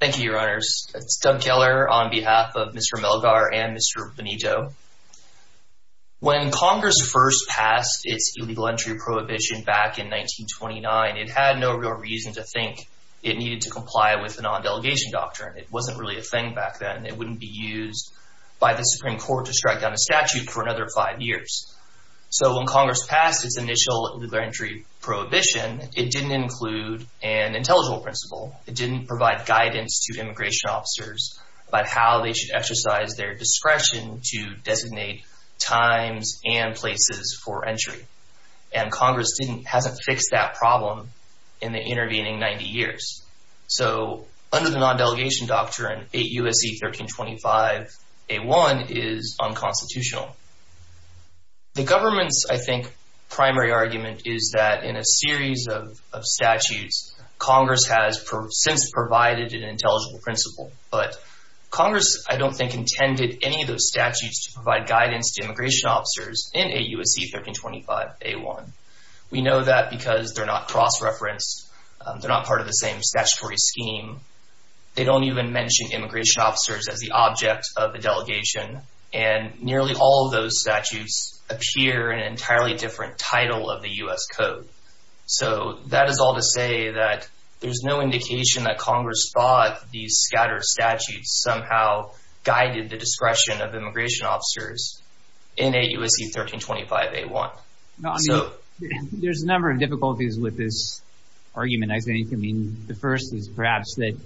Thank you, your honors. It's Doug Keller on behalf of Mr. Melgar and Mr. Benito. When Congress first passed its illegal entry prohibition back in 1929, it had no real reason to think it needed to comply with the non-delegation doctrine. It wasn't really a thing back then. It wouldn't be used by the Supreme Court to strike down a statute for another five years. So when Congress passed its initial illegal entry prohibition, it didn't include an intelligible principle. It didn't provide guidance to immigration officers about how they should exercise their discretion to designate times and places for entry. And Congress hasn't fixed that problem in the intervening 90 years. So under the non-delegation doctrine, 8 U.S.C. 1325, A1 is unconstitutional. The government's, I think, primary argument is that in a series of since provided an intelligible principle. But Congress, I don't think, intended any of those statutes to provide guidance to immigration officers in 8 U.S.C. 1325, A1. We know that because they're not cross-referenced. They're not part of the same statutory scheme. They don't even mention immigration officers as the object of the delegation. And nearly all of those statutes appear in an entirely different title of the U.S. Code. So that is all to say that there's no indication that Congress thought these scattered statutes somehow guided the discretion of immigration officers in 8 U.S.C. 1325, A1. So there's a number of difficulties with this argument. I think, I mean, the first is perhaps that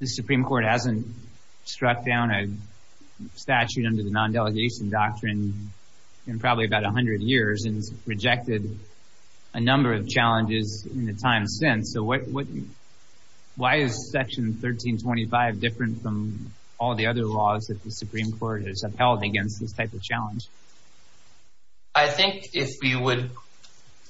the Supreme Court hasn't struck down a statute under the non-delegation doctrine in probably about 100 years and has rejected a number of challenges in the time since. So what, why is Section 1325 different from all the other laws that the Supreme Court has upheld against this type of challenge? I think if we would,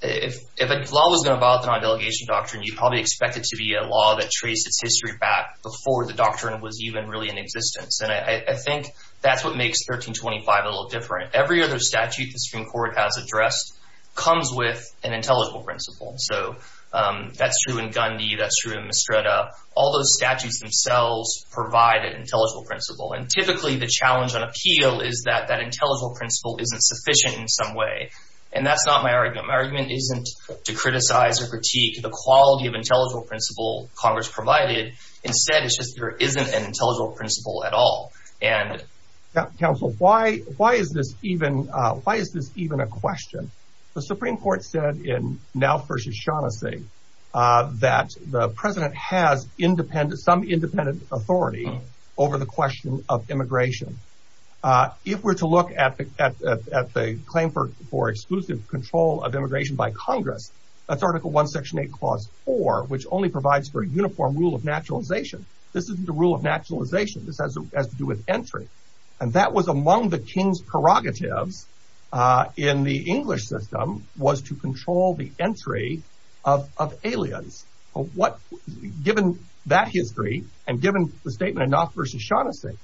if a law was going to violate the non-delegation doctrine, you probably expect it to be a law that traced its history back before the doctrine was even really in existence. And I think that's what makes 1325 a little different. Every other statute the Supreme Court has addressed comes with an intelligible principle. So that's true in Gandhi. That's true in Mistretta. All those statutes themselves provide an intelligible principle. And typically the challenge on appeal is that that intelligible principle isn't sufficient in some way. And that's not my argument. My argument isn't to criticize or critique the principle at all. And... Counsel, why is this even a question? The Supreme Court said in Now v. Shaughnessy that the president has some independent authority over the question of immigration. If we're to look at the claim for exclusive control of immigration by Congress, that's Article I, Section 8, Clause 4, which only provides for a uniform rule of naturalization. This isn't a rule of naturalization. This has to do with entry. And that was among the king's prerogatives in the English system was to control the entry of aliens. Given that history and given the statement in Now v. Shaughnessy,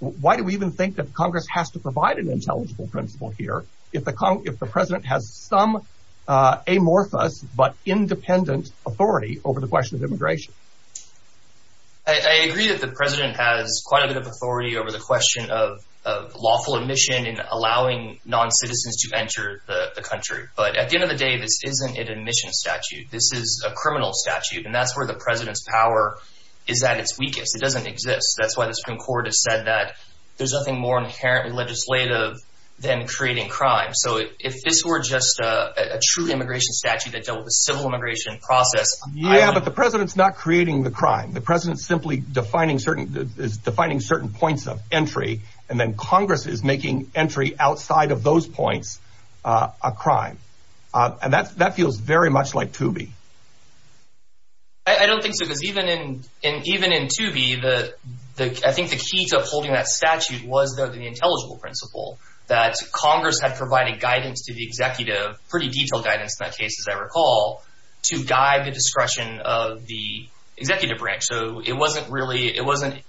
why do we even think that Congress has to provide an intelligible principle here if the president has some amorphous but independent authority over the I agree that the president has quite a bit of authority over the question of lawful admission in allowing non-citizens to enter the country. But at the end of the day, this isn't an admission statute. This is a criminal statute. And that's where the president's power is at its weakest. It doesn't exist. That's why the Supreme Court has said that there's nothing more inherently legislative than creating crime. So if this were just a true immigration statute that dealt with certain points of entry, and then Congress is making entry outside of those points a crime, and that feels very much like to be. I don't think so. Because even in to be the I think the key to upholding that statute was the intelligible principle that Congress had provided guidance to the executive, pretty detailed guidance in that case, as I recall, to guide the discretion of the executive branch. So it wasn't really it wasn't.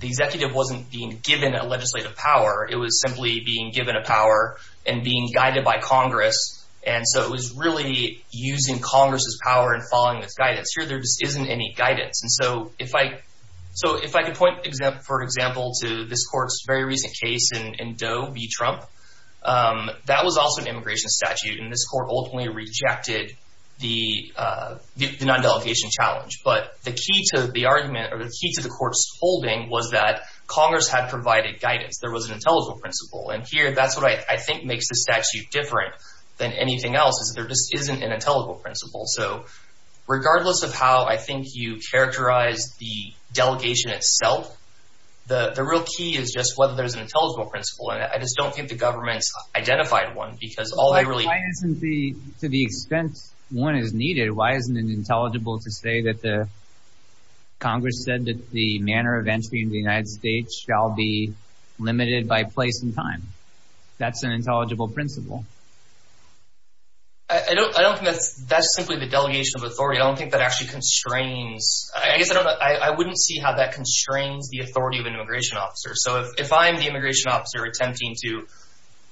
The executive wasn't being given a legislative power. It was simply being given a power and being guided by Congress. And so it was really using Congress's power and following this guidance here. There just isn't any guidance. And so if I so if I can point for example, to this court's very recent case in Doe v. Trump, that was also an immigration statute. And this court ultimately rejected the non-delegation challenge. But the key to the argument or the key to the court's holding was that Congress had provided guidance. There was an intelligible principle. And here, that's what I think makes the statute different than anything else is there just isn't an intelligible principle. So regardless of how I think you characterize the delegation itself, the real key is just whether there's an intelligible principle. And I just don't think the government's identified one because all they really... Why isn't the, to the extent one is needed, why isn't it intelligible to say that the Congress said that the manner of entry in the United States shall be limited by place and time? That's an intelligible principle. I don't I don't think that's that's simply the delegation of authority. I don't think that actually constrains, I guess I don't know, I wouldn't see how that constrains the authority of an immigration officer. So if I'm the immigration officer attempting to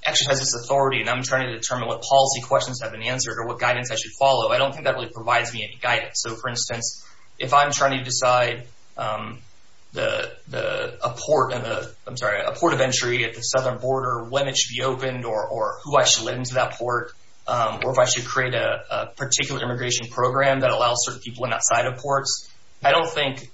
exercise this authority and I'm trying to determine what policy questions have been answered or what guidance I should follow, I don't think that really provides me any guidance. So for instance, if I'm trying to decide a port of entry at the southern border, when it should be opened or who I should let into that port, or if I should create a particular immigration program that allows certain people in outside of ports, I don't think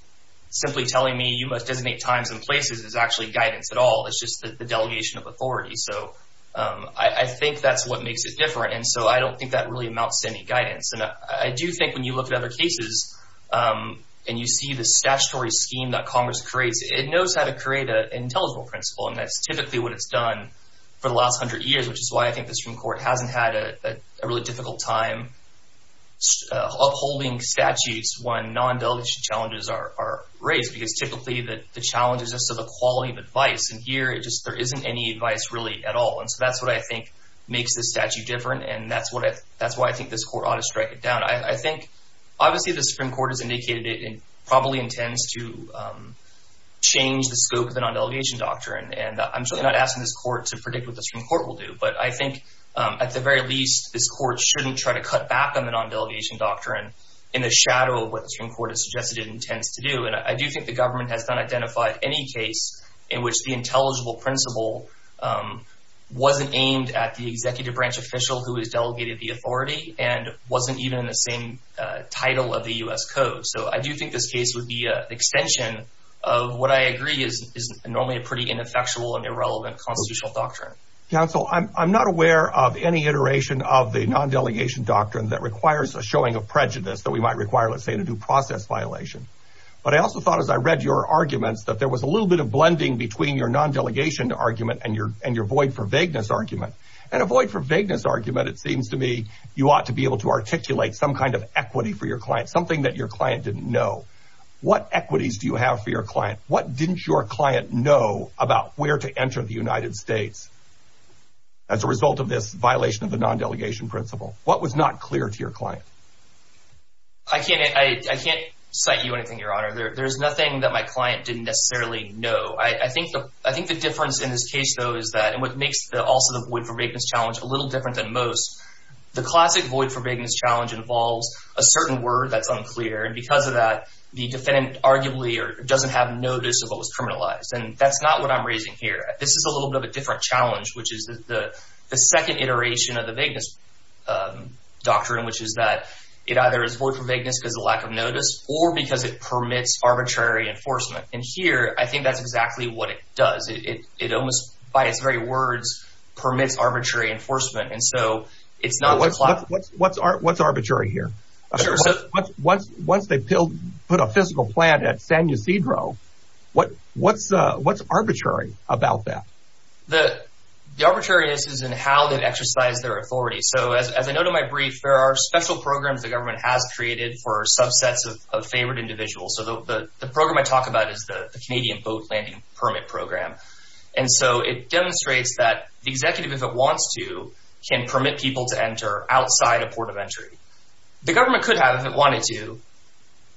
simply telling me you must designate times and places is actually guidance at all. It's just the delegation of authority. So I think that's what makes it different. And so I don't think that really amounts to any guidance. And I do think when you look at other cases and you see the statutory scheme that Congress creates, it knows how to create an intelligible principle. And that's typically what it's done for the last hundred years, which is why I think the Supreme Court hasn't had a really difficult time upholding statutes when non-delegation challenges are raised, because typically the challenge is just the quality of advice. And here, there isn't any advice really at all. And so that's what I think makes this statute different. And that's why I think this court ought to strike it down. I think obviously the Supreme Court has indicated it probably intends to change the scope of the non-delegation doctrine. And I'm not asking this court to predict what the Supreme Court will do. But I think at the very least, this court shouldn't try to cut back on the non-delegation doctrine in the shadow of what the Supreme Court has suggested it intends to do. And I do think the government has not identified any case in which the intelligible principle wasn't aimed at the executive branch official who has delegated the authority and wasn't even in the same title of the U.S. Code. So I do think this case would be extension of what I agree is normally a pretty ineffectual and irrelevant constitutional doctrine. Counsel, I'm not aware of any iteration of the non-delegation doctrine that requires a showing of prejudice that we might require, let's say, in a due process violation. But I also thought as I read your arguments that there was a little bit of blending between your non-delegation argument and your void for vagueness argument. And a void for vagueness argument, it seems to me, you ought to be able to articulate some kind of equity for your client, something that your client didn't know. What equities do you have for your client? What didn't your client know about where to enter the United States as a result of this violation of the non-delegation principle? What was not clear to your client? I can't cite you anything, Your Honor. There's nothing that my client didn't necessarily know. I think the difference in this case, though, is that, and what makes also the void for vagueness challenge a little different than most, the classic void for vagueness challenge involves a certain word that's unclear. And because of that, the defendant arguably doesn't have notice of what was criminalized. And that's not what I'm raising here. This is a little bit of a different challenge, which is the second iteration of the vagueness doctrine, which is that it either is void for vagueness because of lack of notice or because it permits arbitrary enforcement. And here, I think that's exactly what it does. It almost, by its very words, permits arbitrary enforcement. And so, it's not what's arbitrary here. Once they put a fiscal plan at San Ysidro, what's arbitrary about that? The arbitrariness is in how they exercise their authority. So, as I noted in my brief, there are special programs the government has created for subsets of favored individuals. So, the program I talk about is the Canadian boat landing permit program. And so, it demonstrates that the executive, if it wants to, can permit people to enter outside a port of entry. The government could have, if it wanted to,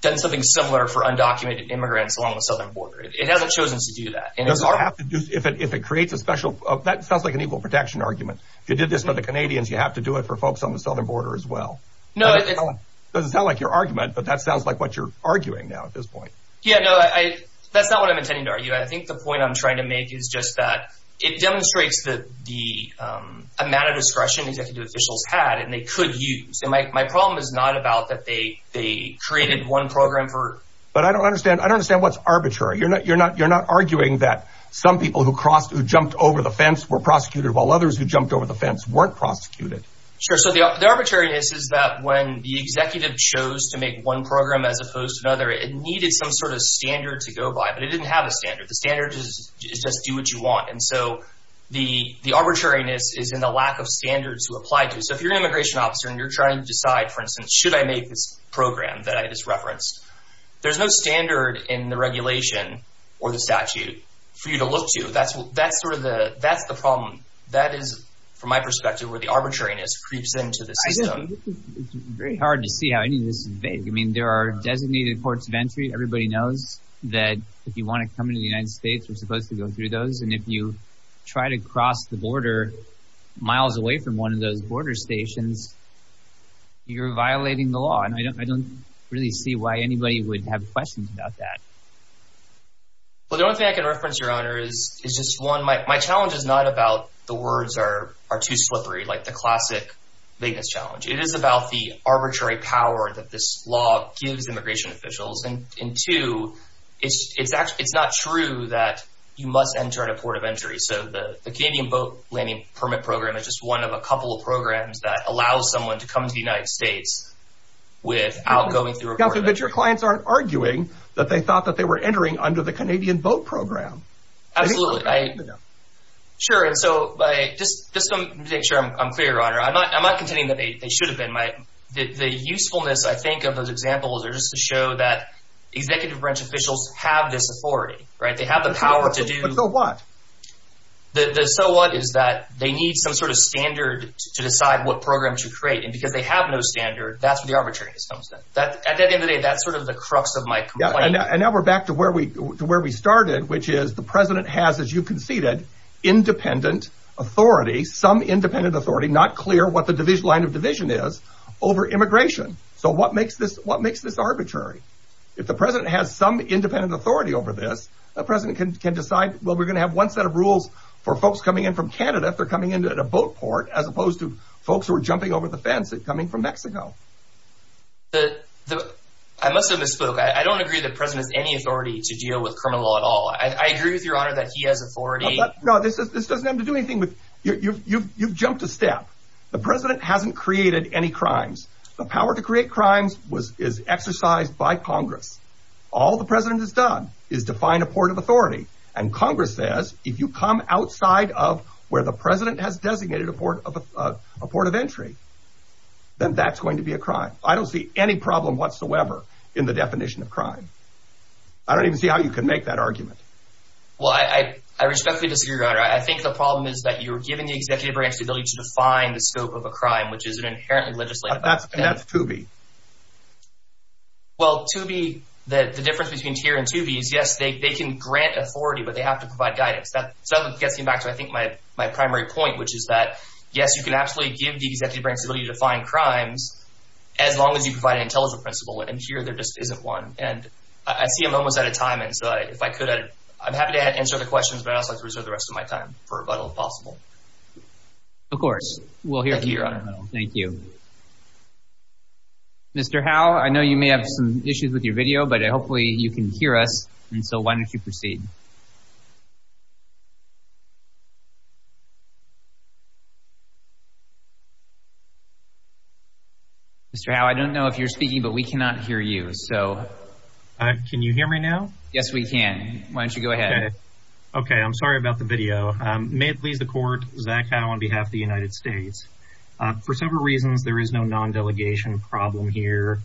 done something similar for undocumented immigrants along the southern border. It hasn't chosen to do that. It doesn't have to do, if it creates a special, that sounds like an equal protection argument. If you did this for the Canadians, you have to do it for folks on the southern border as well. Doesn't sound like your argument, but that sounds like what you're arguing now at this point. Yeah, no, that's not what I'm intending to argue. I think the point I'm trying to make is just that it demonstrates the amount of discretion executive officials had and they could use. And my problem is not about that they created one program for... But I don't understand. I don't understand what's arbitrary. You're not arguing that some people who jumped over the fence were prosecuted while others who jumped over the fence weren't prosecuted. Sure. So, the arbitrariness is that when the executive chose to make one program as opposed to another, it needed some sort of standard to go by, but it didn't have a standard. The standard is just do what you want. And so, the arbitrariness is in the lack of standards to apply to. So, if you're an immigration officer and you're trying to decide, for instance, should I make this program that I just referenced? There's no standard in the regulation or the statute for you to look to. That's the problem. That is, from my perspective, where the arbitrariness creeps into the system. It's very hard to see how any of this is vague. I mean, there are designated ports of entry. Everybody knows that if you want to come into the United States, you're supposed to go through those. And if you try to cross the border miles away from one of those border stations, you're violating the law. And I don't really see why anybody would have questions about that. Well, the only thing I can reference, Your Honor, is just one. My challenge is not about the words are too slippery, like the classic vagueness challenge. It is about the arbitrary power that this law gives immigration officials. And two, it's not true that you must enter at a port of entry. So, the Canadian Boat Landing Permit Program is just one of a couple of programs that allows someone to come to the United States without going through a port of entry. But your clients aren't arguing that they thought that they were entering under the system. Just to make sure I'm clear, Your Honor, I'm not contending that they should have been. The usefulness, I think, of those examples are just to show that executive branch officials have this authority. They have the power to do... But so what? So what is that they need some sort of standard to decide what program to create. And because they have no standard, that's where the arbitrariness comes in. At the end of the day, that's sort of the crux of my complaint. And now we're back to where we started, which is the President has, as you conceded, independent authority, some independent authority, not clear what the line of division is over immigration. So what makes this arbitrary? If the President has some independent authority over this, the President can decide, well, we're going to have one set of rules for folks coming in from Canada if they're coming in at a boat port, as opposed to folks who are jumping over the fence coming from Mexico. I must have misspoke. I don't agree that the President has any authority to deal with criminal law at all. I agree with Your Honor that he has authority. No, this doesn't have to do anything with... You've jumped a step. The President hasn't created any crimes. The power to create crimes is exercised by Congress. All the President has done is define a port of authority. And Congress says, if you come outside of where the President has designated a port of entry, then that's going to be a crime. I don't see any problem whatsoever in the definition of crime. I don't even see how you can make that argument. Well, I respectfully disagree, Your Honor. I think the problem is that you're giving the executive branch the ability to define the scope of a crime, which is an inherently legislative... And that's to be. Well, to be... The difference between to be and to be is, yes, they can grant authority, but they have to provide guidance. That gets me back to, I think, my primary point, which is that, yes, you can absolutely give the executive branch the ability to define crimes, as long as you provide an intelligence principle. And here, there just isn't one. And I see I'm almost out of time. And so if I could, I'm happy to answer the questions, but I'd also like to reserve the rest of my time for rebuttal, if possible. Of course. We'll hear from you, Your Honor. Thank you. Mr. Howe, I know you may have some issues with your video, but hopefully you can hear us. And so why don't you proceed? Mr. Howe, I don't know if you're speaking, but we cannot hear you. So... Can you hear me now? Yes, we can. Why don't you go ahead? Okay. I'm sorry about the video. May it please the Court, Zach Howe on behalf of the United States. For several reasons, there is no non-delegation problem here.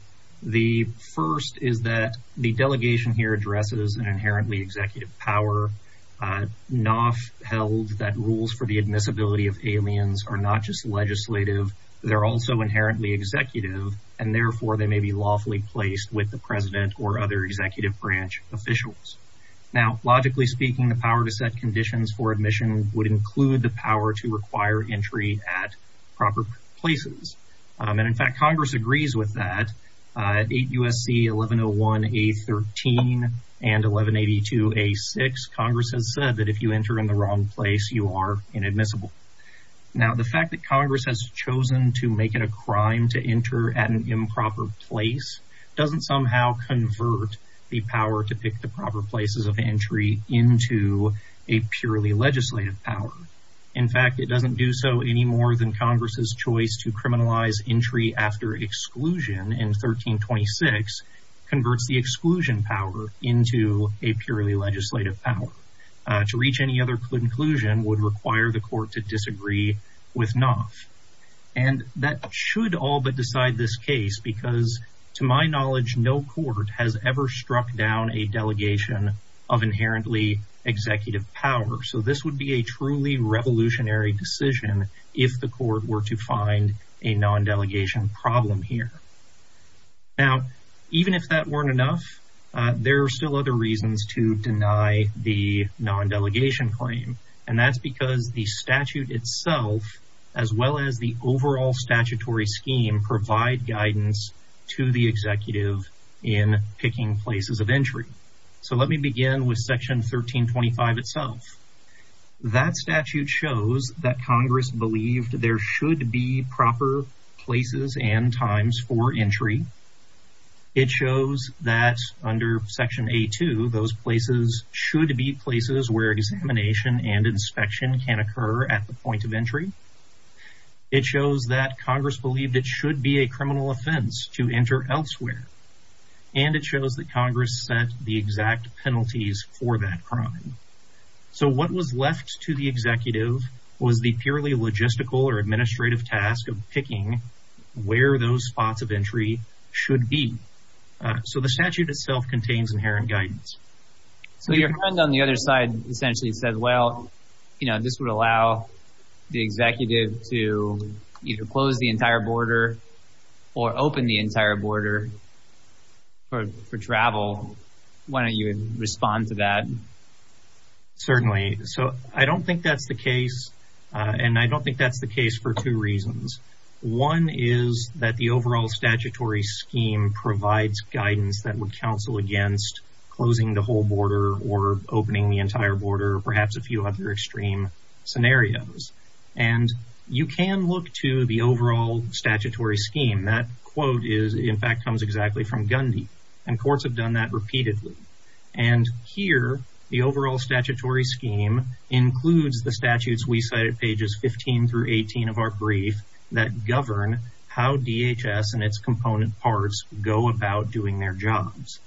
The first is that the delegation here addresses an inherently executive power, not held that rules for the admissibility of aliens are not just legislative, they're also inherently executive, and therefore they may be lawfully placed with the president or other executive branch officials. Now, logically speaking, the power to set conditions for admission would include the power to require entry at proper places. And in fact, Congress agrees with that. At 8 U.S.C. 1101A13 and 1182A6, Congress has said that if you enter in the wrong place, you are inadmissible. Now, the fact that Congress has chosen to make it a crime to enter at an improper place doesn't somehow convert the power to pick the proper places of entry into a purely legislative power. In fact, it doesn't do so any more than Congress's choice to criminalize entry after exclusion in 1326 converts the exclusion power into a purely legislative power. To reach any other conclusion would require the court to disagree with Knopf. And that should all but decide this case because to my knowledge, no court has ever struck down a delegation of inherently executive power. So this would be a truly revolutionary decision if the court were to find a non-delegation problem here. Now, even if that weren't enough, there are still other reasons to deny the non-delegation claim. And that's because the statute itself, as well as the overall statutory scheme, provide guidance to the executive in picking places of entry. So let me begin with section 1325 itself. That statute shows that Congress believed there should be proper places and times for entry. It shows that under section A2, those places should be places where examination and inspection can occur at the point of entry. It shows that Congress believed it should be a criminal offense to enter elsewhere. And it shows that Congress set the exact penalties for that crime. So what was left to the executive was the purely logistical or administrative task of picking where those spots of entry should be. So the statute itself contains inherent guidance. So your friend on the other side essentially said, well, you know, this would allow the executive to either close the entire border or open the entire border for travel. Why don't you respond to that? Certainly. So I don't think that's the case. And I don't think that's the case for two reasons. One is that the overall statutory scheme provides guidance that would counsel against closing the whole border or opening the entire border, perhaps a few other extreme scenarios. And you can look to the overall statutory scheme. That quote is, in fact, comes exactly from Gundy. And courts have done that repeatedly. And here, the overall statutory scheme includes the statutes we cite at pages 15 through 18 of our brief that govern how DHS and its component parts go about doing their jobs.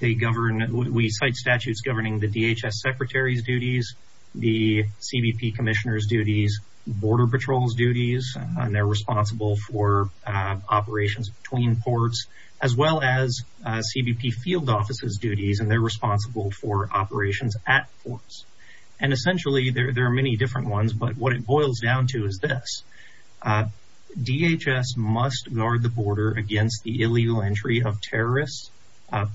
We cite statutes governing the DHS Secretary's duties, the CBP Commissioner's duties, Border Patrol's duties, and they're responsible for operations between ports, as well as CBP officers' duties, and they're responsible for operations at ports. And essentially, there are many different ones, but what it boils down to is this. DHS must guard the border against the illegal entry of terrorists,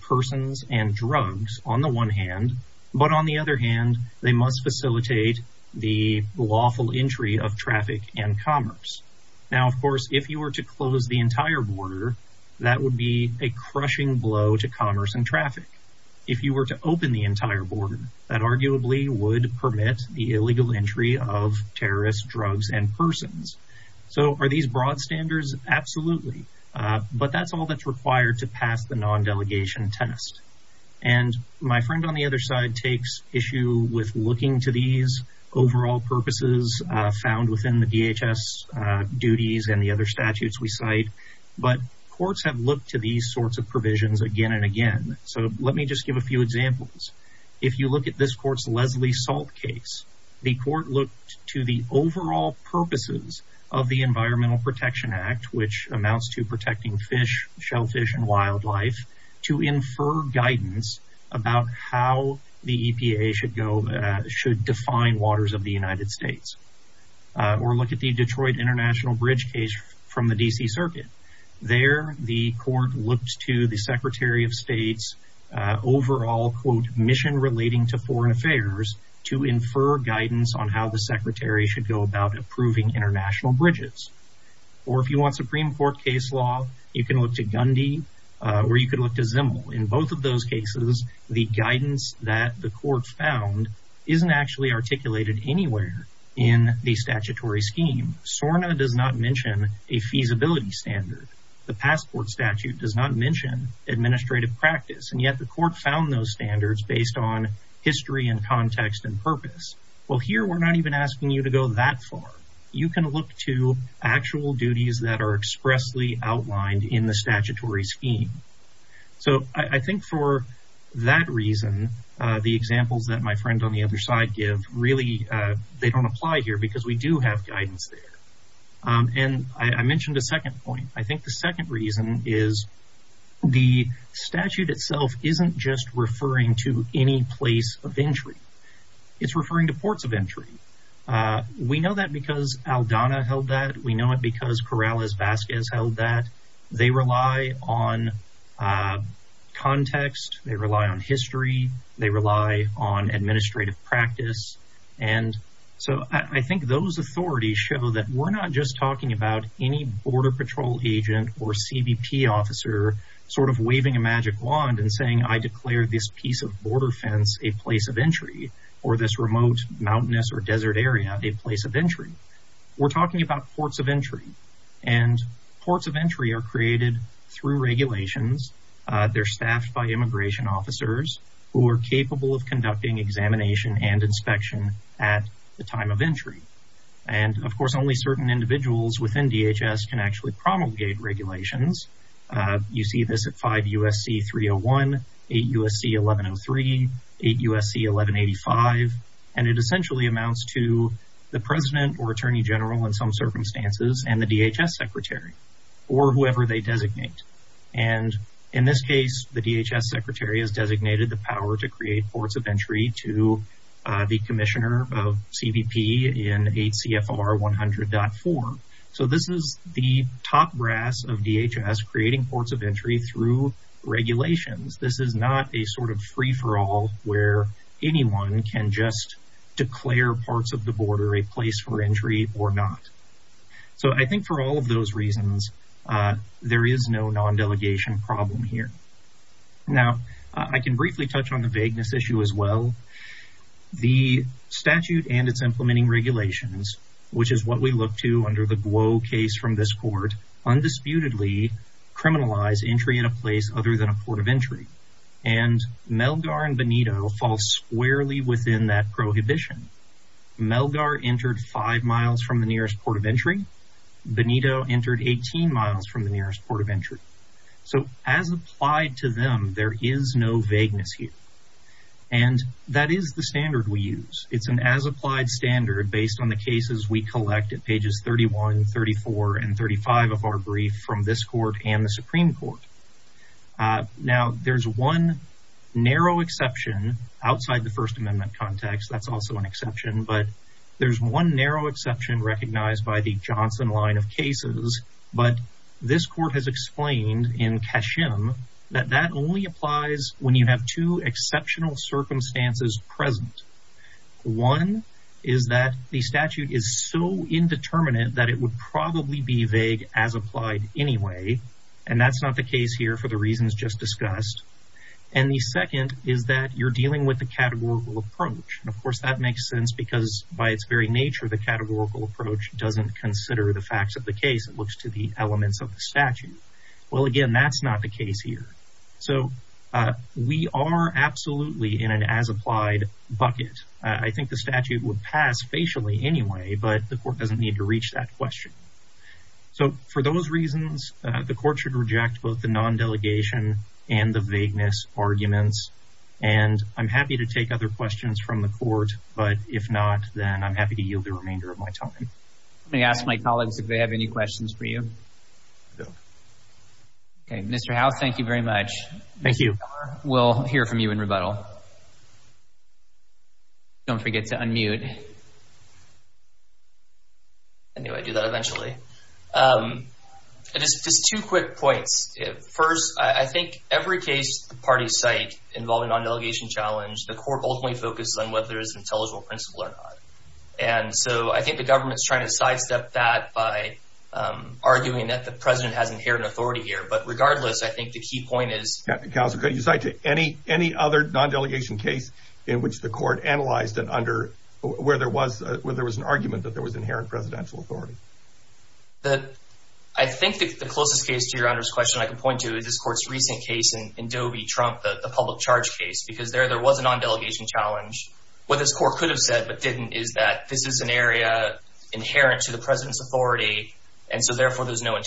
persons, and drugs on the one hand, but on the other hand, they must facilitate the lawful entry of traffic and commerce. Now, of course, if you were to close the entire border, that would be a crushing blow to commerce and traffic. If you were to open the entire border, that arguably would permit the illegal entry of terrorists, drugs, and persons. So are these broad standards? Absolutely. But that's all that's required to pass the non-delegation test. And my friend on the other side takes issue with looking to these overall purposes found within the DHS duties and the Let me just give a few examples. If you look at this court's Leslie Salt case, the court looked to the overall purposes of the Environmental Protection Act, which amounts to protecting fish, shellfish, and wildlife, to infer guidance about how the EPA should go, should define waters of the United States. Or look at the Detroit International Bridge case from the D.C. Circuit. There, the court looked to the Secretary of State's overall, quote, mission relating to foreign affairs to infer guidance on how the Secretary should go about approving international bridges. Or if you want Supreme Court case law, you can look to Gundy, or you could look to Zimmel. In both of those cases, the guidance that the court found isn't actually articulated anywhere in the statutory scheme. SORNA does not mention a feasibility standard. The passport statute does not mention administrative practice. And yet, the court found those standards based on history and context and purpose. Well, here, we're not even asking you to go that far. You can look to actual duties that are expressly outlined in the other side give. Really, they don't apply here because we do have guidance there. And I mentioned a second point. I think the second reason is the statute itself isn't just referring to any place of entry. It's referring to ports of entry. We know that because Aldana held that. We know it because Corrales-Vasquez held that. They rely on context. They rely on history. They rely on administrative practice. And so, I think those authorities show that we're not just talking about any border patrol agent or CBP officer sort of waving a magic wand and saying, I declare this piece of border fence a place of entry, or this remote mountainous or desert area a place of entry. We're talking about ports of entry. And ports of entry are created through regulations. They're staffed by immigration officers who are capable of conducting examination and inspection at the time of entry. And, of course, only certain individuals within DHS can actually promulgate regulations. You see this at 5 U.S.C. 301, 8 U.S.C. 1103, 8 U.S.C. 1185. And it essentially amounts to the president or attorney general in some circumstances and the designated. And in this case, the DHS secretary has designated the power to create ports of entry to the commissioner of CBP in 8 CFR 100.4. So, this is the top brass of DHS creating ports of entry through regulations. This is not a sort of free-for-all where anyone can just declare parts of the border a place for entry or not. So, I think for all of those reasons, there is no non-delegation problem here. Now, I can briefly touch on the vagueness issue as well. The statute and its implementing regulations, which is what we look to under the Guo case from this court, undisputedly criminalize entry in a place other than a port of entry. And Melgar and Benito fall squarely within that prohibition. Melgar entered five miles from the nearest port of entry. Benito entered 18 miles from the nearest port of entry. So, as applied to them, there is no vagueness here. And that is the standard we use. It's an as-applied standard based on the cases we collect at pages 31, 34, and 35 of our brief from this court and the Supreme Court. Now, there's one narrow exception outside the First Amendment context. That's also an exception. But there's one narrow exception recognized by the Johnson line of cases. But this court has explained in Cashim that that only applies when you have two exceptional circumstances present. One is that the statute is so indeterminate that it would probably be vague as applied anyway. And that's not the case here for the reasons just discussed. And the second is that you're dealing with the categorical approach. And, of course, that makes sense because by its very nature, the categorical approach doesn't consider the facts of the case. It looks to the elements of the statute. Well, again, that's not the case here. So, we are absolutely in an as-applied bucket. I think the statute would pass facially anyway, but the court doesn't need to reach that question. So, for those reasons, the court should reject both the non-delegation and the vagueness arguments. And I'm happy to take other questions from the court. But if not, then I'm happy to yield the remainder of my time. Let me ask my colleagues if they have any questions for you. Okay. Mr. Howe, thank you very much. Thank you. We'll hear from you in rebuttal. Don't forget to unmute. I knew I'd do that eventually. Just two quick points. First, I think every case the parties cite involving non-delegation challenge, the court ultimately focuses on whether it's an intelligible principle or not. And so, I think the government's trying to sidestep that by arguing that the president has inherent authority here. But regardless, I think the key point is- Counsel, could you cite any other non-delegation case in which the court analyzed and under where there was an argument that there was inherent presidential authority? I think the closest case to your honor's question I can point to is this court's recent case in Dobie-Trump, the public charge case. Because there was a non-delegation challenge. What this court could have said but didn't is that this is an area inherent to the president's authority. And so, therefore, there's no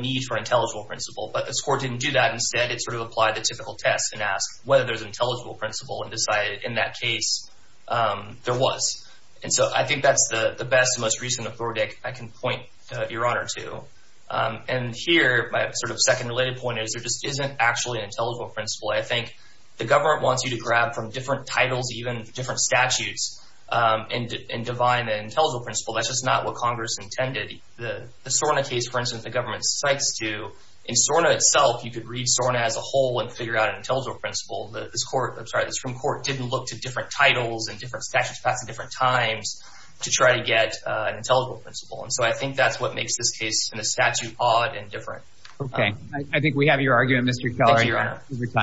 need for intelligible principle. But this court didn't do that. Instead, it sort of applied the typical test and asked whether there's intelligible principle and decided in that case there was. And so, I think that's the best and most recent authority I can point your honor to. And here, my sort of second related point is there just isn't actually an intelligible principle. I think the government wants you to grab from different titles, even different statutes, and divine an intelligible principle. That's just not what Congress intended. The SORNA case, for instance, the government cites to- In SORNA itself, you could read SORNA as a whole and figure out an intelligible principle. This court- I'm sorry, this court didn't look to different titles and different statutes passed at different times to try to get an intelligible principle. And so, I think that's what makes this case in a statute odd and different. Okay. I think we have your argument, Mr. Kellery. Thank you, your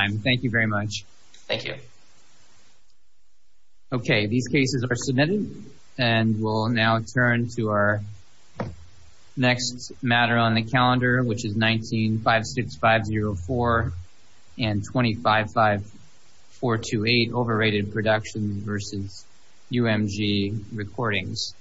honor. Thank you very much. Thank you. Okay. These cases are submitted. And we'll now turn to our matter on the calendar, which is 19-56504 and 25-5428, overrated production versus UMG recordings.